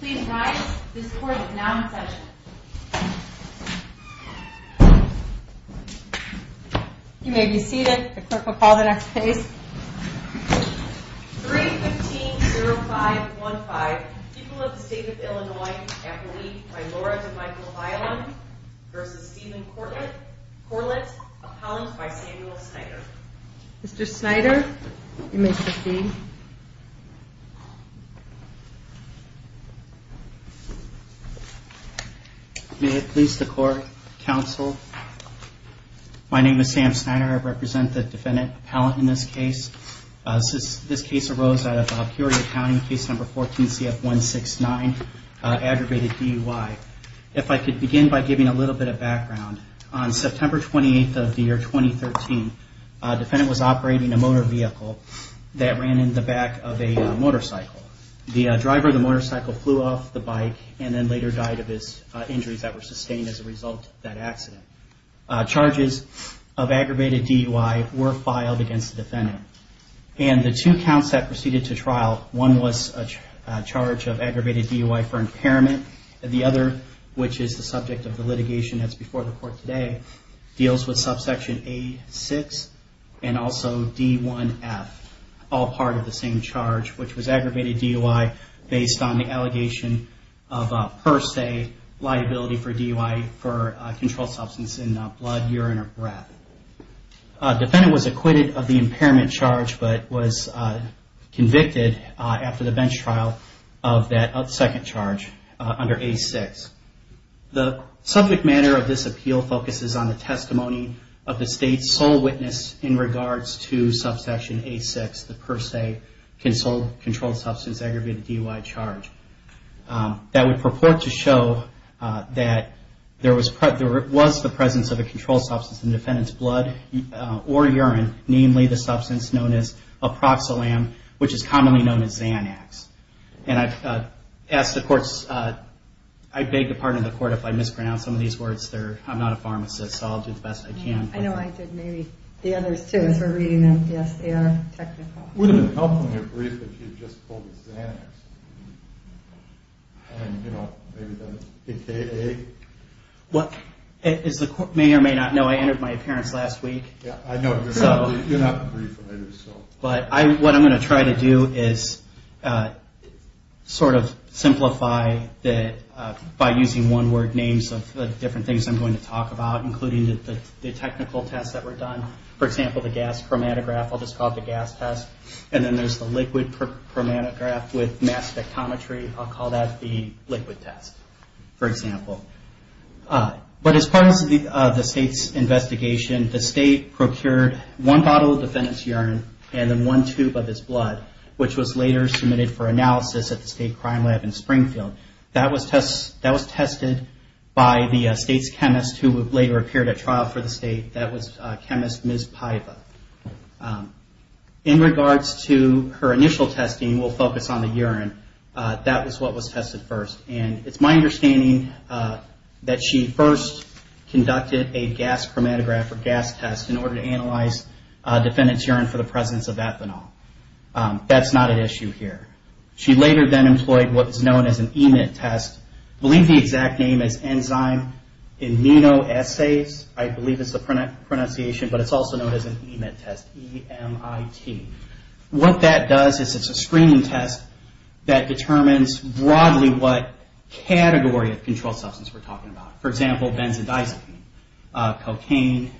Please rise. This court is now in session. You may be seated. The clerk will call the next case. 3-15-05-15. People of the State of Illinois. Appellee by Laura DeMichael Highland v. Stephen Corlett. Corlett, appellant by Samuel Snyder. Mr. Snyder, you may proceed. May it please the court, counsel, my name is Sam Snyder. I represent the defendant appellant in this case. This case arose out of Curia County, case number 14 CF-169, aggravated DUI. If I could begin by giving a little bit of background. On September 28th of the year 2013, a defendant was operating a motor vehicle that ran in the back of a motorcycle. The driver of the motorcycle flew off the bike and then later died of his injuries that were sustained as a result of that accident. Charges of aggravated DUI were filed against the defendant. And the two counts that proceeded to trial, one was a charge of aggravated DUI for impairment, and the other, which is the subject of the litigation that's before the court today, deals with subsection A-6 and also D-1F, all part of the same charge, which was aggravated DUI based on the allegation of per se liability for DUI for a controlled substance in blood, urine, or breath. The defendant was acquitted of the impairment charge but was convicted after the bench trial of that second charge under A-6. The subject matter of this appeal focuses on the testimony of the State's sole witness in regards to subsection A-6, the per se controlled substance aggravated DUI charge. That would purport to show that there was the presence of a controlled substance in the defendant's blood or urine, namely the substance known as aproxalam, which is commonly known as Xanax. And I've asked the courts, I beg the pardon of the court if I mispronounce some of these words. I'm not a pharmacist, so I'll do the best I can. I know I did. Maybe the others, too, as we're reading them. Yes, they are technical. Would it help from your brief if you just called it Xanax? And, you know, maybe that's A-K-A? Well, as the court may or may not know, I entered my appearance last week. Yeah, I know. You're not briefed, are you? But what I'm going to try to do is sort of simplify that by using one-word names of the different things I'm going to talk about, including the technical tests that were done. For example, the gas chromatograph, I'll just call it the gas test. And then there's the liquid chromatograph with mass spectrometry. I'll call that the liquid test, for example. But as part of the State's investigation, the State procured one bottle of defendant's urine and then one tube of his blood, which was later submitted for analysis at the State Crime Lab in Springfield. That was tested by the State's chemist, who later appeared at trial for the State. That was chemist Ms. Paiva. In regards to her initial testing, we'll focus on the urine. That was what was tested first. And it's my understanding that she first conducted a gas chromatograph, or gas test, in order to analyze defendant's urine for the presence of ethanol. That's not an issue here. She later then employed what was known as an EMIT test. I believe the exact name is Enzyme Immunoassays, I believe is the pronunciation, but it's also known as an EMIT test, E-M-I-T. What that does is it's a screening test that determines broadly what category of controlled substance we're talking about. For example, benzodiazepine, cocaine,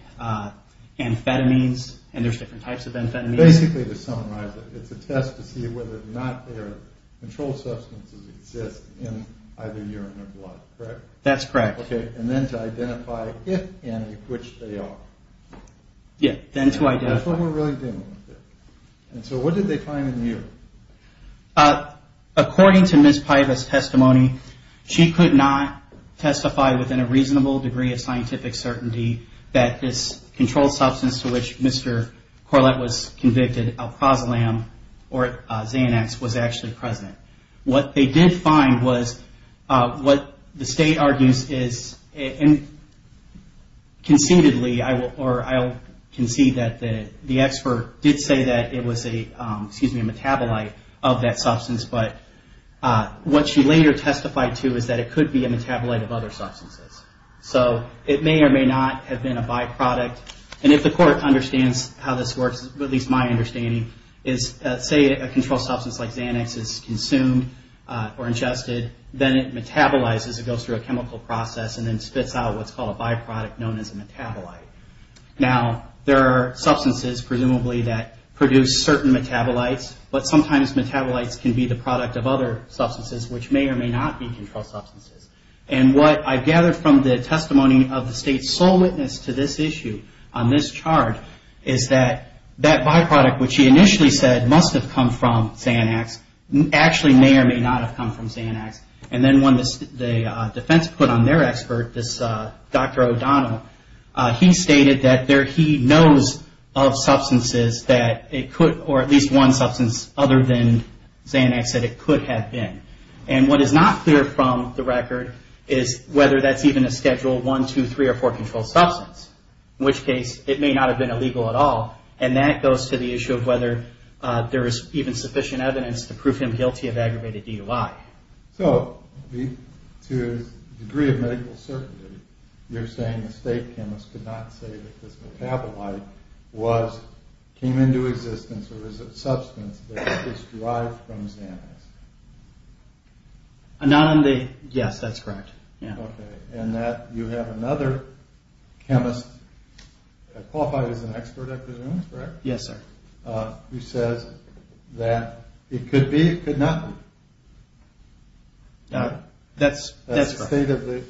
amphetamines, and there's different types of amphetamines. Basically, to summarize it, it's a test to see whether or not there are controlled substances exist in either urine or blood, correct? That's correct. Okay, and then to identify if any, which they are. Yeah, then to identify. That's what we're really dealing with here. And so what did they find in the urine? According to Ms. Piva's testimony, she could not testify within a reasonable degree of scientific certainty that this controlled substance to which Mr. Corlett was convicted, alcohazolam or Xanax, was actually present. What they did find was what the state argues is, and conceitedly, or I'll concede that the expert did say that it was a metabolite of that substance, but what she later testified to is that it could be a metabolite of other substances. So it may or may not have been a byproduct, and if the court understands how this works, at least my understanding, is say a controlled substance like Xanax is consumed or ingested, then it metabolizes, it goes through a chemical process, and then spits out what's called a byproduct known as a metabolite. Now, there are substances presumably that produce certain metabolites, but sometimes metabolites can be the product of other substances which may or may not be controlled substances. And what I've gathered from the testimony of the state's sole witness to this issue on this charge is that that byproduct, which she initially said must have come from Xanax, actually may or may not have come from Xanax. And then when the defense put on their expert, this Dr. O'Donnell, he stated that he knows of substances that it could, or at least one substance other than Xanax that it could have been. And what is not clear from the record is whether that's even a Schedule I, II, III, or IV controlled substance, in which case it may not have been illegal at all, and that goes to the issue of whether there is even sufficient evidence to prove him guilty of aggravated DUI. So, to the degree of medical certainty, you're saying the state chemist could not say that this metabolite came into existence or is a substance that is derived from Xanax. Yes, that's correct. Okay, and that you have another chemist, qualified as an expert I presume, is that correct? Yes, sir. Who says that it could be, it could not be. That's correct. That's the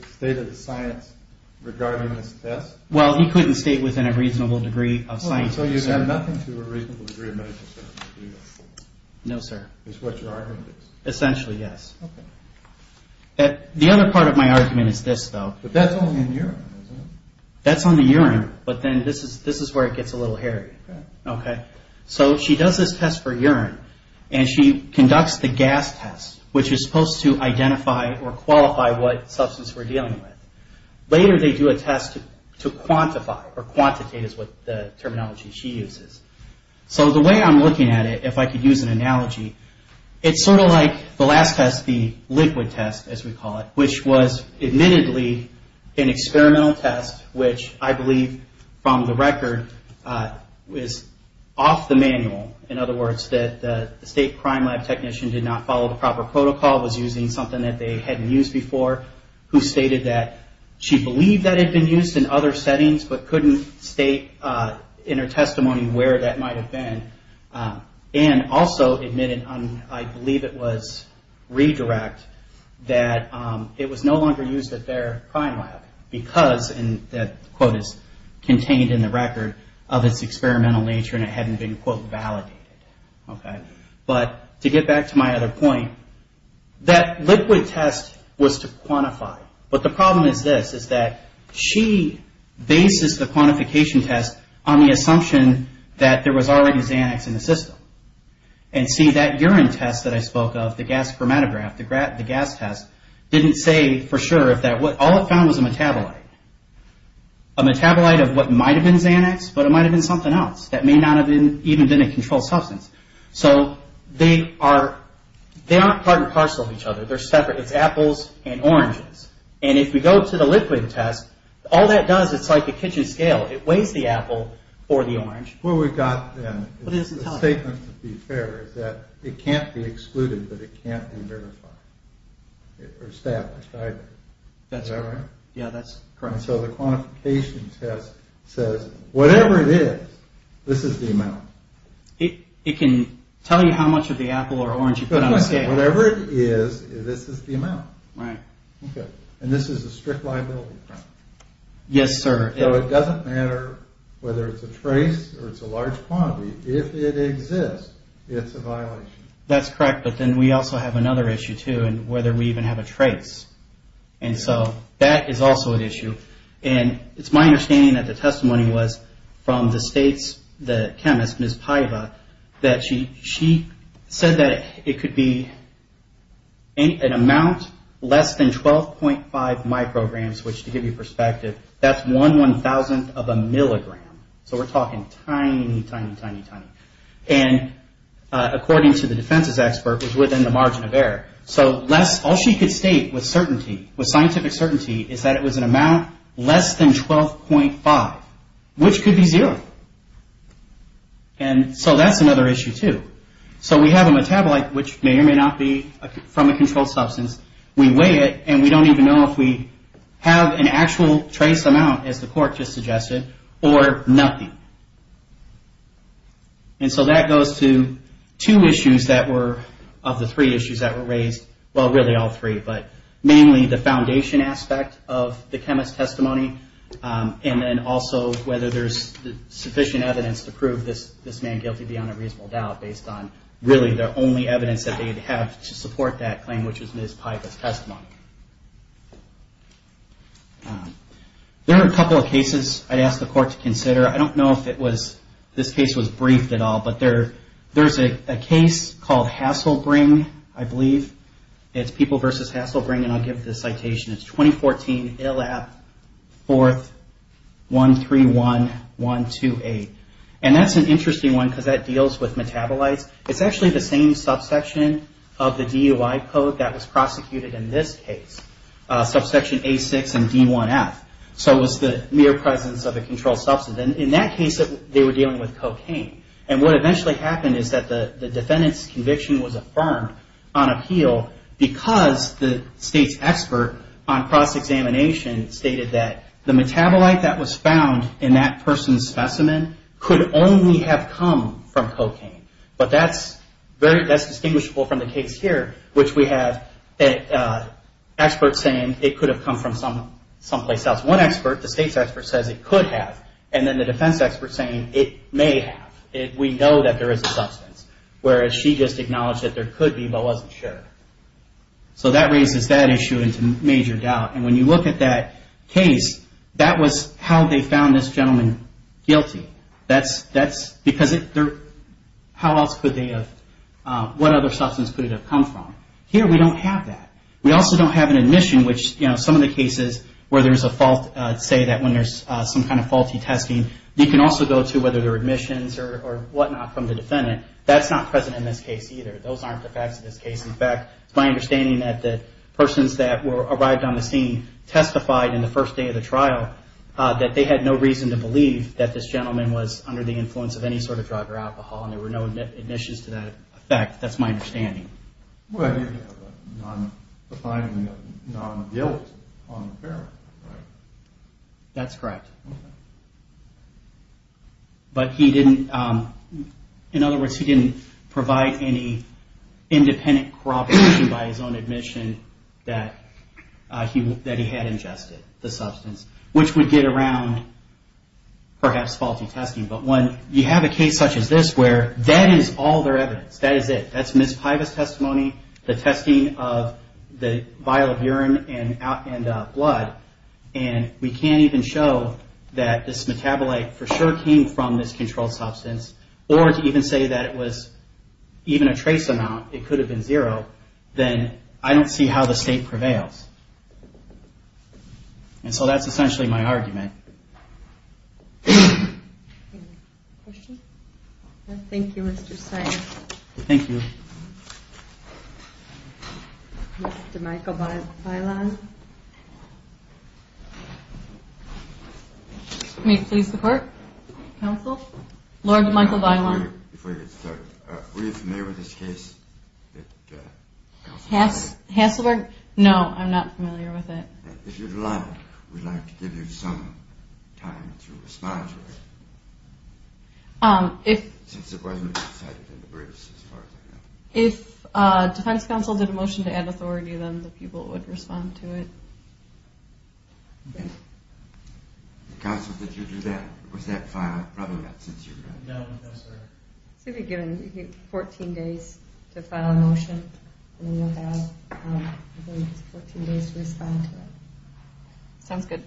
state of the science regarding this test? Well, he couldn't state within a reasonable degree of science. So you have nothing to a reasonable degree of medical certainty? No, sir. Is what your argument is? Essentially, yes. Okay. The other part of my argument is this, though. But that's only in urine, isn't it? That's only urine, but then this is where it gets a little hairy. Okay. So she does this test for urine, and she conducts the gas test, which is supposed to identify or qualify what substance we're dealing with. Later they do a test to quantify, or quantitate is what the terminology she uses. So the way I'm looking at it, if I could use an analogy, it's sort of like the last test, the liquid test, as we call it, which was admittedly an experimental test, which I believe from the record is off the manual. In other words, that the state crime lab technician did not follow the proper protocol, was using something that they hadn't used before, who stated that she believed that it had been used in other settings but couldn't state in her testimony where that might have been, and also admitted, I believe it was redirect, that it was no longer used at their crime lab because, and that quote is contained in the record, of its experimental nature and it hadn't been, quote, validated. Okay. But to get back to my other point, that liquid test was to quantify. But the problem is this, is that she bases the quantification test on the assumption that there was already Xanax in the system. And see, that urine test that I spoke of, the gas chromatograph, the gas test, didn't say for sure if that, all it found was a metabolite. A metabolite of what might have been Xanax, but it might have been something else that may not have even been a controlled substance. So they aren't part and parcel of each other. They're separate. It's apples and oranges. And if we go to the liquid test, all that does, it's like a kitchen scale. It weighs the apple for the orange. Well, we've got the statement to be fair is that it can't be excluded, but it can't be verified. Or established either. That's right. Yeah, that's correct. And so the quantification test says, whatever it is, this is the amount. It can tell you how much of the apple or orange you put on a scale. Whatever it is, this is the amount. Right. Okay. And this is a strict liability problem. Yes, sir. So it doesn't matter whether it's a trace or it's a large quantity. If it exists, it's a violation. That's correct. But then we also have another issue, too, and whether we even have a trace. And so that is also an issue. And it's my understanding that the testimony was from the state's chemist, Ms. Paiva, that she said that it could be an amount less than 12.5 micrograms, which, to give you perspective, that's one one-thousandth of a milligram. So we're talking tiny, tiny, tiny, tiny. And according to the defense's expert, it was within the margin of error. So all she could state with certainty, with scientific certainty, is that it was an amount less than 12.5, which could be zero. And so that's another issue, too. So we have a metabolite, which may or may not be from a controlled substance. We weigh it, and we don't even know if we have an actual trace amount, as the court just suggested, or nothing. And so that goes to two issues of the three issues that were raised. Well, really all three, but mainly the foundation aspect of the chemist's testimony, and then also whether there's sufficient evidence to prove this man guilty, beyond a reasonable doubt, based on really the only evidence that they have to support that claim, which is Ms. Paiva's testimony. There are a couple of cases I'd ask the court to consider. I don't know if this case was briefed at all, but there's a case called Hasselbring, I believe. It's People v. Hasselbring, and I'll give the citation. It's 2014, ILAP, 4th, 131, 128. And that's an interesting one, because that deals with metabolites. It's actually the same subsection of the DUI code that was prosecuted in this case, subsection A6 and D1F. So it was the mere presence of a controlled substance. In that case, they were dealing with cocaine. And what eventually happened is that the defendant's conviction was affirmed on appeal, because the state's expert on cross-examination stated that the metabolite that was found in that person's specimen could only have come from cocaine. But that's distinguishable from the case here, which we have experts saying it could have come from someplace else. One expert, the state's expert, says it could have. And then the defense expert's saying it may have. We know that there is a substance, whereas she just acknowledged that there could be, but wasn't sure. So that raises that issue into major doubt. And when you look at that case, that was how they found this gentleman guilty. Because how else could they have, what other substance could it have come from? Here we don't have that. We also don't have an admission, which some of the cases where there's a fault, say that when there's some kind of faulty testing, you can also go to whether there are admissions or whatnot from the defendant. That's not present in this case either. Those aren't the facts of this case. In fact, it's my understanding that the persons that arrived on the scene testified in the first day of the trial that they had no reason to believe that this gentleman was under the influence of any sort of drug or alcohol and there were no admissions to that effect. That's my understanding. That's correct. But he didn't, in other words, he didn't provide any independent corroboration by his own admission that he had ingested the substance, which would get around, perhaps, faulty testing. But when you have a case such as this where that is all their evidence, that is it, that's Ms. Piva's testimony, the testing of the vial of urine and blood, and we can't even show that this metabolite for sure came from this controlled substance or to even say that it was even a trace amount, it could have been zero, then I don't see how the state prevails. And so that's essentially my argument. Thank you, Mr. Stein. Thank you. Mr. Michael Bailon. May it please the court? Counsel? Lord Michael Bailon. Before you get started, were you familiar with this case? Hasselberg? No, I'm not familiar with it. If you'd like, we'd like to give you some time to respond to it. Since it wasn't decided in the briefs, as far as I know. If defense counsel did a motion to add authority, then the people would respond to it. Counsel, did you do that? Was that filed? Probably not, since you're not here. You'll be given 14 days to file a motion, and then you'll have 14 days to respond to it. Sounds good.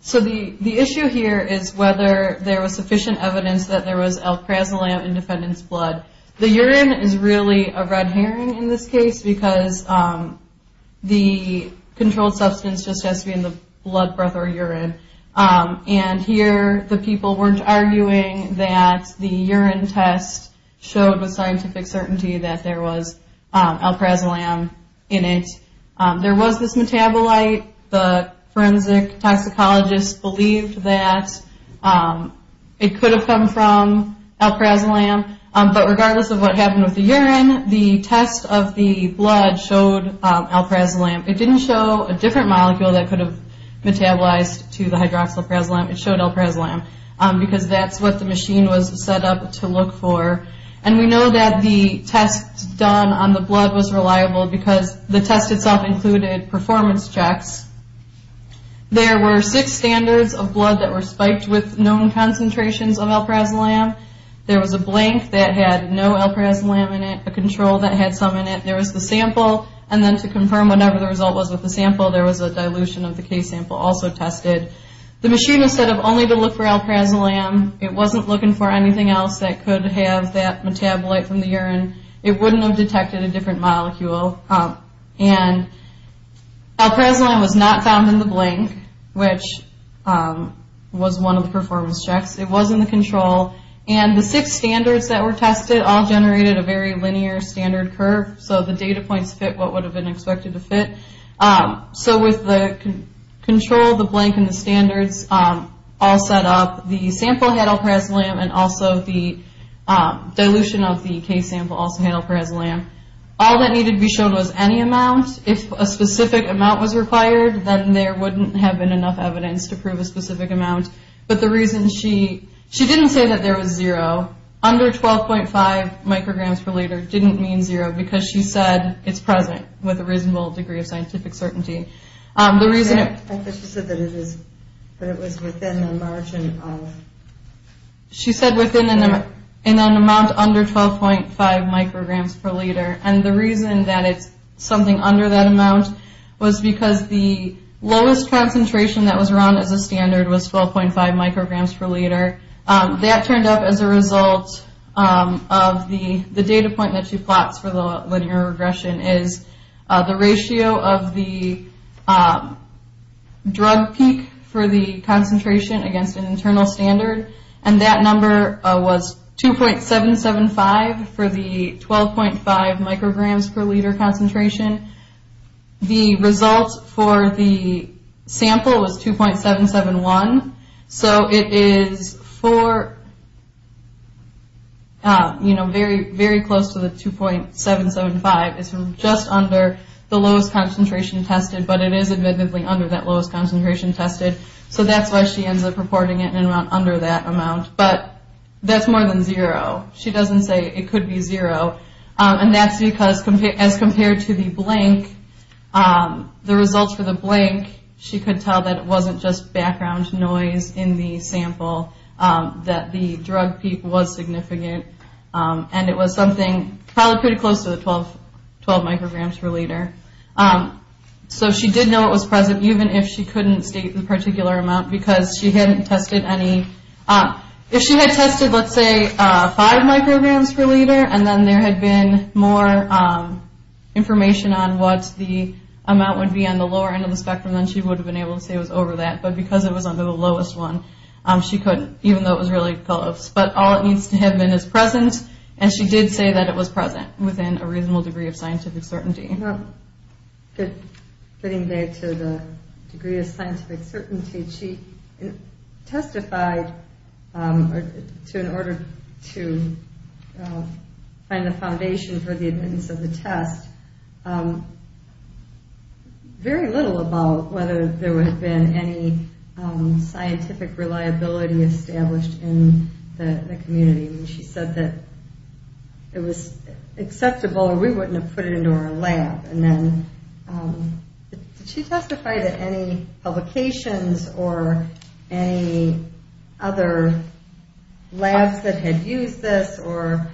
So the issue here is whether there was sufficient evidence that there was L-Prazolam in defendant's blood. The urine is really a red herring in this case because the controlled substance just has to be in the blood, breath, or urine. And here the people weren't arguing that the urine test showed with scientific certainty that there was L-Prazolam in it. There was this metabolite. The forensic toxicologist believed that it could have come from L-Prazolam. But regardless of what happened with the urine, the test of the blood showed L-Prazolam. It didn't show a different molecule that could have metabolized to the hydroxyl L-Prazolam. It showed L-Prazolam because that's what the machine was set up to look for. And we know that the test done on the blood was reliable because the test itself included performance checks. There were six standards of blood that were spiked with known concentrations of L-Prazolam. There was a blank that had no L-Prazolam in it, a control that had some in it. There was the sample, and then to confirm whatever the result was with the sample, there was a dilution of the case sample also tested. The machine was set up only to look for L-Prazolam. It wasn't looking for anything else that could have that metabolite from the urine. It wouldn't have detected a different molecule. And L-Prazolam was not found in the blank, which was one of the performance checks. It was in the control. And the six standards that were tested all generated a very linear standard curve, so the data points fit what would have been expected to fit. So with the control, the blank, and the standards all set up, the sample had L-Prazolam and also the dilution of the case sample also had L-Prazolam. All that needed to be shown was any amount. If a specific amount was required, then there wouldn't have been enough evidence to prove a specific amount. But the reason she – she didn't say that there was zero. Under 12.5 micrograms per liter didn't mean zero because she said it's present with a reasonable degree of scientific certainty. The reason – She said that it was within a margin of – She said within an amount under 12.5 micrograms per liter. And the reason that it's something under that amount was because the lowest concentration that was run as a standard was 12.5 micrograms per liter. That turned up as a result of the data point that she plots for the linear regression is the ratio of the drug peak for the concentration against an internal standard, and that number was 2.775 for the 12.5 micrograms per liter concentration. The result for the sample was 2.771. So it is for – very close to the 2.775. It's from just under the lowest concentration tested, but it is admittedly under that lowest concentration tested. So that's why she ends up reporting it in an amount under that amount. But that's more than zero. She doesn't say it could be zero. And that's because, as compared to the blank, the results for the blank, she could tell that it wasn't just background noise in the sample, that the drug peak was significant, and it was something probably pretty close to the 12 micrograms per liter. So she did know it was present, even if she couldn't state the particular amount, because she hadn't tested any – If she had tested, let's say, 5 micrograms per liter, and then there had been more information on what the amount would be on the lower end of the spectrum, then she would have been able to say it was over that. But because it was under the lowest one, she couldn't, even though it was really close. But all it needs to have been is present, and she did say that it was present within a reasonable degree of scientific certainty. Getting there to the degree of scientific certainty, she testified in order to find the foundation for the evidence of the test, very little about whether there would have been any scientific reliability established in the community. She said that it was acceptable, or we wouldn't have put it into our lab. And then, did she testify to any publications or any other labs that had used this, or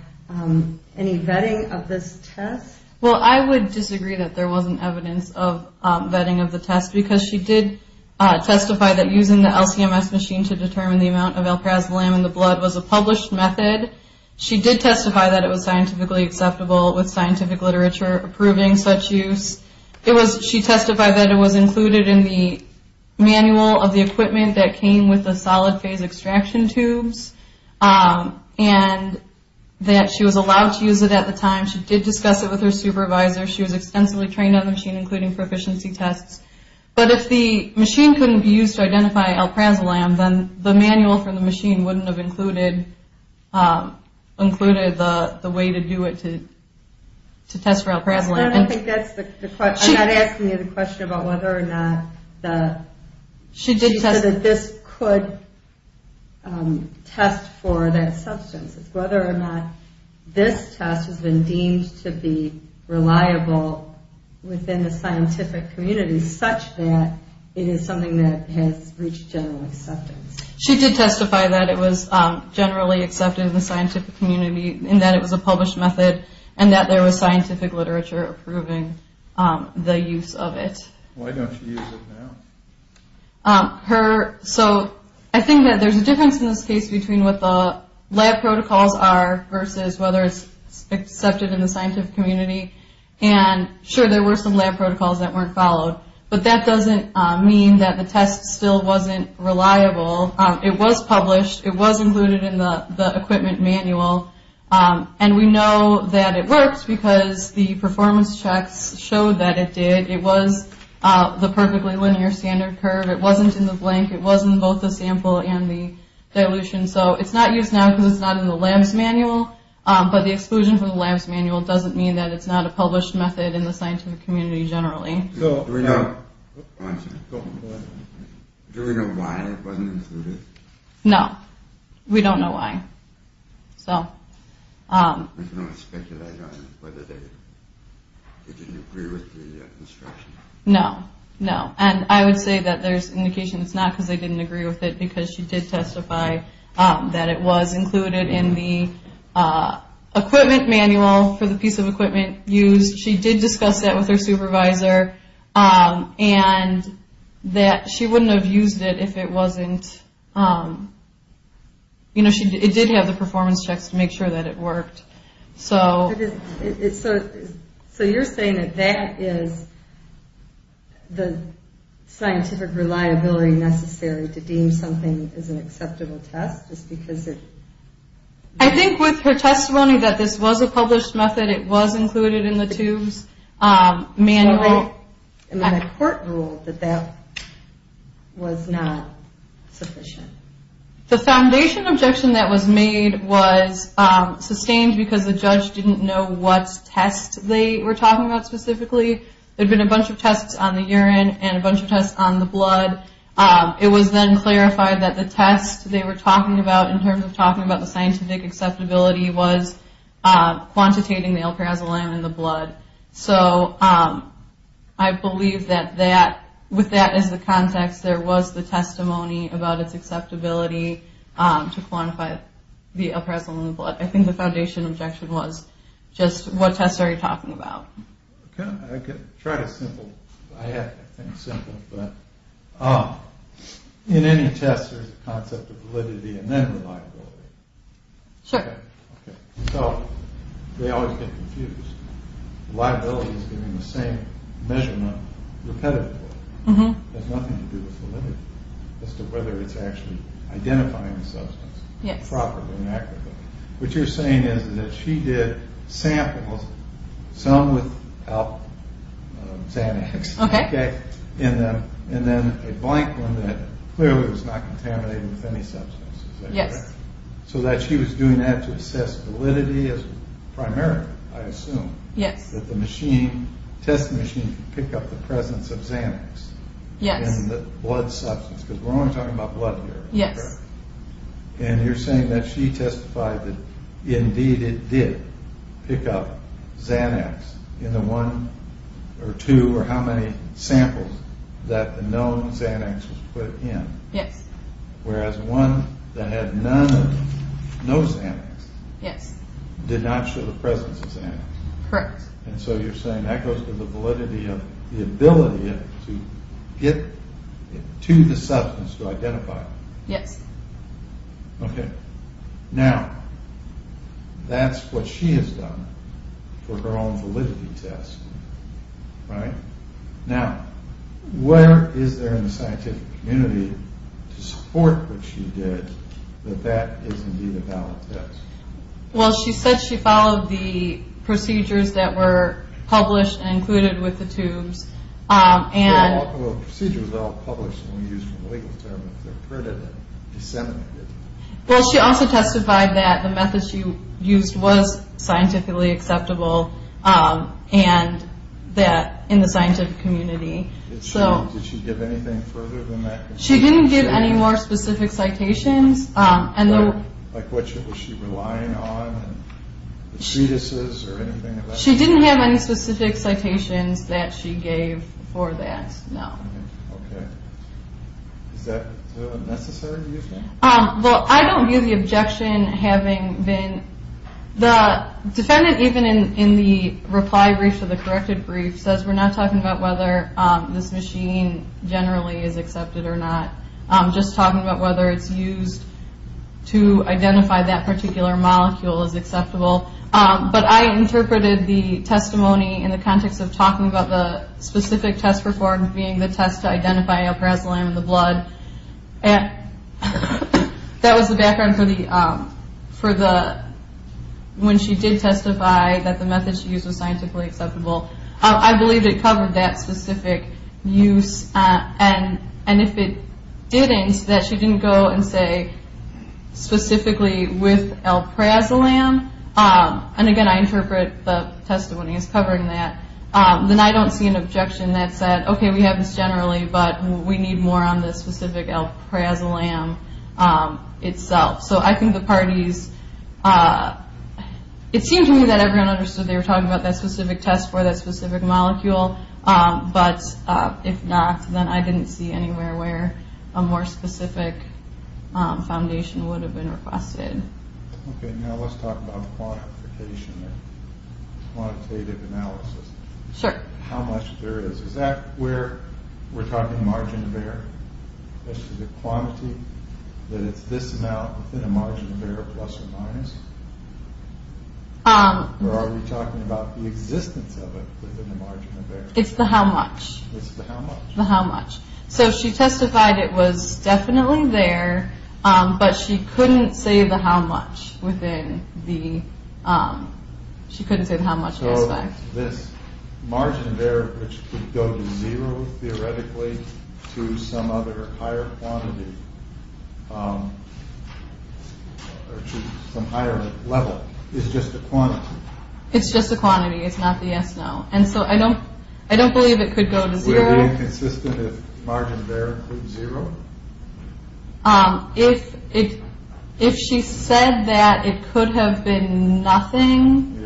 any vetting of this test? Well, I would disagree that there wasn't evidence of vetting of the test, because she did testify that using the LC-MS machine to determine the amount of alprazolam in the blood was a published method. She did testify that it was scientifically acceptable with scientific literature approving such use. She testified that it was included in the manual of the equipment that came with the solid phase extraction tubes, and that she was allowed to use it at the time. She did discuss it with her supervisor. She was extensively trained on the machine, including proficiency tests. But if the machine couldn't be used to identify alprazolam, then the manual from the machine wouldn't have included the way to do it to test for alprazolam. I don't think that's the question. I'm not asking you the question about whether or not this could test for that substance. It's whether or not this test has been deemed to be reliable within the scientific community, such that it is something that has reached general acceptance. She did testify that it was generally accepted in the scientific community, and that it was a published method, and that there was scientific literature approving the use of it. Why don't you use it now? I think that there's a difference in this case between what the lab protocols are versus whether it's accepted in the scientific community. Sure, there were some lab protocols that weren't followed, but that doesn't mean that the test still wasn't reliable. It was published. It was included in the equipment manual. And we know that it worked because the performance checks showed that it did. It was the perfectly linear standard curve. It wasn't in the blank. It wasn't both the sample and the dilution. So it's not used now because it's not in the lab's manual, but the exclusion from the lab's manual doesn't mean that it's not a published method in the scientific community generally. Do we know why it wasn't included? No. We don't know why. We can only speculate on whether they didn't agree with the instruction. No, no. And I would say that there's indication it's not because they didn't agree with it, because she did testify that it was included in the equipment manual for the piece of equipment used. She did discuss that with her supervisor, and that she wouldn't have used it if it wasn't, you know, it did have the performance checks to make sure that it worked. So you're saying that that is the scientific reliability necessary to deem something as an acceptable test, just because it... I think with her testimony that this was a published method, it was included in the tube's manual. And the court ruled that that was not sufficient. The foundation objection that was made was sustained because the judge didn't know what test they were talking about specifically. There had been a bunch of tests on the urine and a bunch of tests on the blood. It was then clarified that the test they were talking about in terms of talking about the scientific acceptability was quantitating the L-perazolam in the blood. So I believe that with that as the context, there was the testimony about its acceptability to quantify the L-perazolam in the blood. I think the foundation objection was just what test are you talking about. Okay. I can try to simple... I have to think simple. But in any test, there's a concept of validity and then reliability. Sure. So they always get confused. Reliability is giving the same measurement repetitively. It has nothing to do with validity as to whether it's actually identifying the substance properly and accurately. What you're saying is that she did samples, some without Xanax, and then a blank one that clearly was not contaminated with any substance. Yes. So that she was doing that to assess validity as primary, I assume. Yes. That the test machine could pick up the presence of Xanax in the blood substance. Because we're only talking about blood here. Yes. And you're saying that she testified that indeed it did pick up Xanax in the one or two or how many samples that the known Xanax was put in. Yes. Whereas one that had no Xanax did not show the presence of Xanax. Correct. And so you're saying that goes to the validity of the ability to get to the substance to identify it. Yes. Okay. Now, that's what she has done for her own validity test, right? Now, where is there in the scientific community to support what she did, that that is indeed a valid test? Well, she said she followed the procedures that were published and included with the tubes. So all the procedures are all published and we use the legal term if they're printed and disseminated. Well, she also testified that the method she used was scientifically acceptable and that in the scientific community. Did she give anything further than that? She didn't give any more specific citations. Like what was she relying on, the treatises or anything like that? She didn't have any specific citations that she gave for that, no. Okay. Is that necessary to you? Well, I don't view the objection having been. The defendant, even in the reply brief to the corrected brief, says we're not talking about whether this machine generally is accepted or not. I'm just talking about whether it's used to identify that particular molecule as acceptable. But I interpreted the testimony in the context of talking about the specific test performed, being the test to identify aprasalam in the blood. That was the background for when she did testify that the method she used was scientifically acceptable. I believe it covered that specific use. And if it didn't, that she didn't go and say specifically with aprasalam. And again, I interpret the testimony as covering that. Then I don't see an objection that said, okay, we have this generally, but we need more on this specific aprasalam itself. So I think the parties, it seemed to me that everyone understood they were talking about that specific test for that specific molecule. But if not, then I didn't see anywhere where a more specific foundation would have been requested. Okay. Now let's talk about quantification or quantitative analysis. Sure. Is that where we're talking margin of error? The quantity, that it's this amount within a margin of error, plus or minus? Or are we talking about the existence of it within the margin of error? It's the how much. It's the how much. The how much. So she testified it was definitely there, but she couldn't say the how much within the – she couldn't say the how much aspect. This margin of error, which could go to zero, theoretically, to some other higher quantity, or to some higher level, is just a quantity. It's just a quantity. It's not the yes, no. And so I don't believe it could go to zero. Would it be inconsistent if margin of error was zero? If she said that it could have been nothing,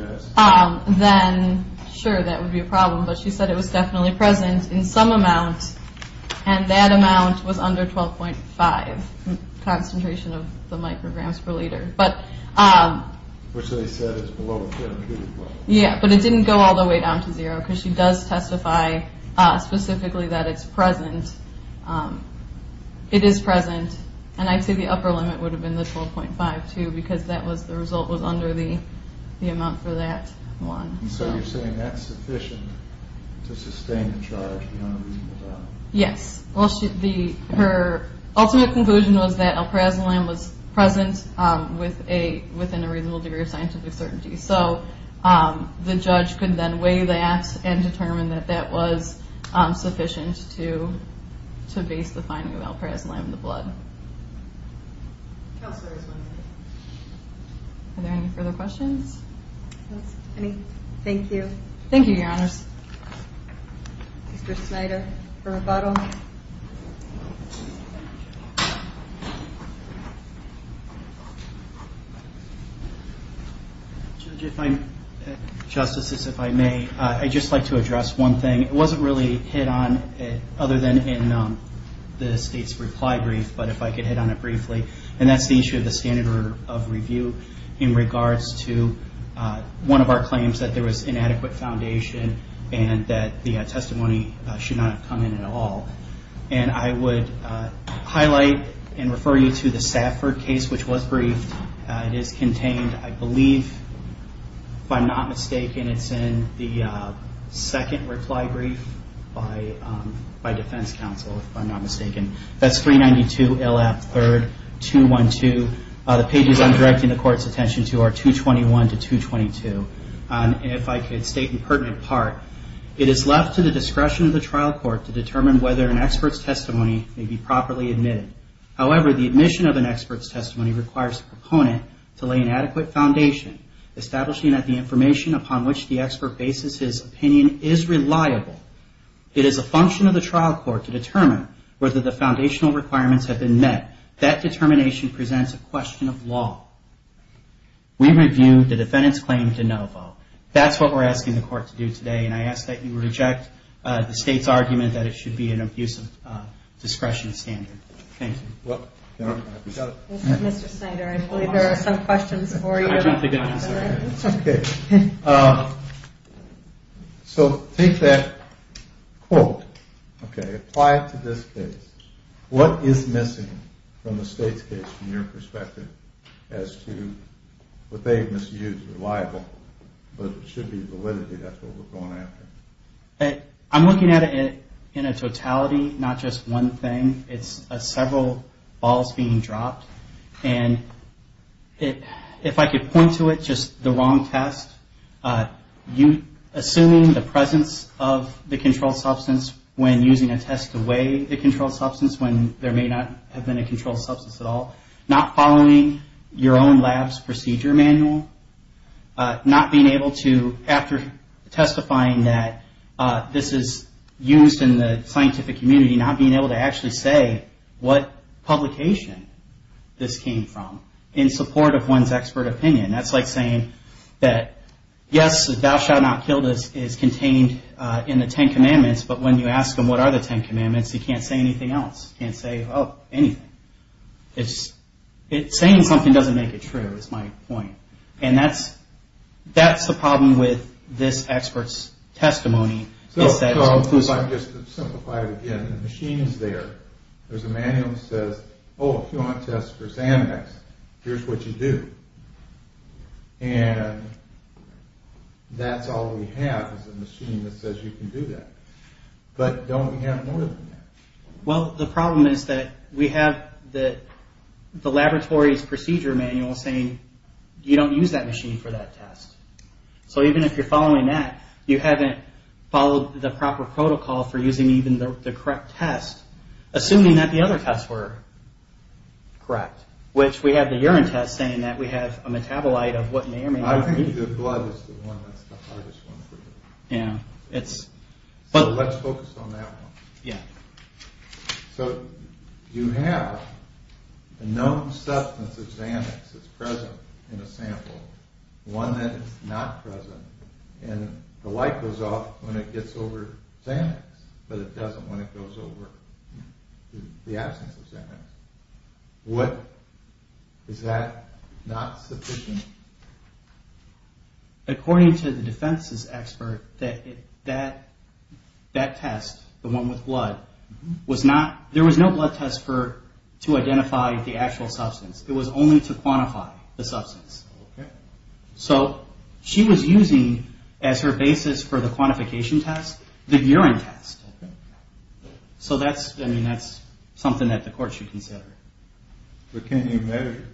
then sure, that would be a problem. But she said it was definitely present in some amount, and that amount was under 12.5 concentration of the micrograms per liter. Which they said is below the therapeutic level. Yeah, but it didn't go all the way down to zero, because she does testify specifically that it's present. It is present. And I'd say the upper limit would have been the 12.5 too, because the result was under the amount for that one. So you're saying that's sufficient to sustain the charge beyond a reasonable doubt? Yes. Well, her ultimate conclusion was that alprazolam was present within a reasonable degree of scientific certainty. So the judge could then weigh that and determine that that was sufficient to base the finding of alprazolam in the blood. Counselors, are there any further questions? Thank you. Thank you, Your Honors. Mr. Snyder for rebuttal. Justices, if I may, I'd just like to address one thing. It wasn't really hit on other than in the State's reply brief, but if I could hit on it briefly. And that's the issue of the standard of review in regards to one of our claims that there was inadequate foundation and that the testimony should not have come in at all. And I would highlight and refer you to the Stafford case, which was briefed. It is contained, I believe, if I'm not mistaken, it's in the second reply brief by defense counsel, if I'm not mistaken. That's 392LF3212. The pages I'm directing the Court's attention to are 221 to 222. And if I could state in pertinent part, it is left to the discretion of the trial court to determine whether an expert's testimony may be properly admitted. However, the admission of an expert's testimony requires the proponent to lay an adequate foundation, establishing that the information upon which the expert bases his opinion is reliable. It is a function of the trial court to determine whether the foundational requirements have been met. That determination presents a question of law. We review the defendant's claim to no vote. That's what we're asking the Court to do today, and I ask that you reject the State's argument that it should be an abuse of discretion standard. Thank you. Mr. Snyder, I believe there are some questions for you. Okay. So take that quote, okay, apply it to this case. What is missing from the State's case, from your perspective, as to what they've misused, reliable, but it should be validity. That's what we're going after. I'm looking at it in a totality, not just one thing. It's several balls being dropped, and if I could point to it, just the wrong test, assuming the presence of the controlled substance when using a test to weigh the controlled substance when there may not have been a controlled substance at all, not following your own lab's procedure manual, not being able to, after testifying that this is used in the scientific community, not being able to actually say what publication this came from, in support of one's expert opinion. That's like saying that, yes, thou shalt not kill is contained in the Ten Commandments, but when you ask them what are the Ten Commandments, they can't say anything else. They can't say, oh, anything. Saying something doesn't make it true, is my point. And that's the problem with this expert's testimony. I'll just simplify it again. The machine is there. There's a manual that says, oh, if you want to test for Xanax, here's what you do. And that's all we have is a machine that says you can do that. But don't we have more than that? Well, the problem is that we have the laboratory's procedure manual saying you don't use that machine for that test. So even if you're following that, you haven't followed the proper protocol for using even the correct test, assuming that the other tests were correct, which we have the urine test saying that we have a metabolite of what may or may not be. I think the blood is the one that's the hardest one for you. Yeah. So let's focus on that one. Yeah. So you have a known substance of Xanax that's present in a sample, one that is not present, and the light goes off when it gets over Xanax, but it doesn't when it goes over the absence of Xanax. Is that not sufficient? According to the defense's expert, that test, the one with blood, there was no blood test to identify the actual substance. It was only to quantify the substance. Okay. So she was using as her basis for the quantification test the urine test. Okay. So that's something that the court should consider. But can you measure?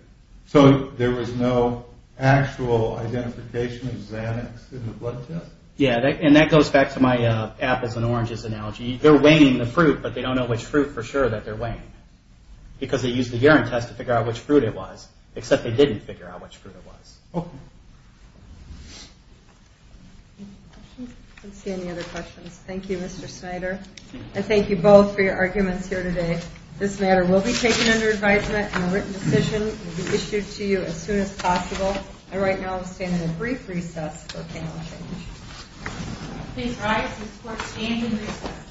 So there was no actual identification of Xanax in the blood test? Yeah. And that goes back to my apples and oranges analogy. They're weighing the fruit, but they don't know which fruit for sure that they're weighing because they used the urine test to figure out which fruit it was, except they didn't figure out which fruit it was. Okay. I don't see any other questions. Thank you, Mr. Snyder. And thank you both for your arguments here today. This matter will be taken under advisement and a written decision will be issued to you as soon as possible. And right now I'm going to stand in a brief recess for panel change. Please rise. This court stands in recess.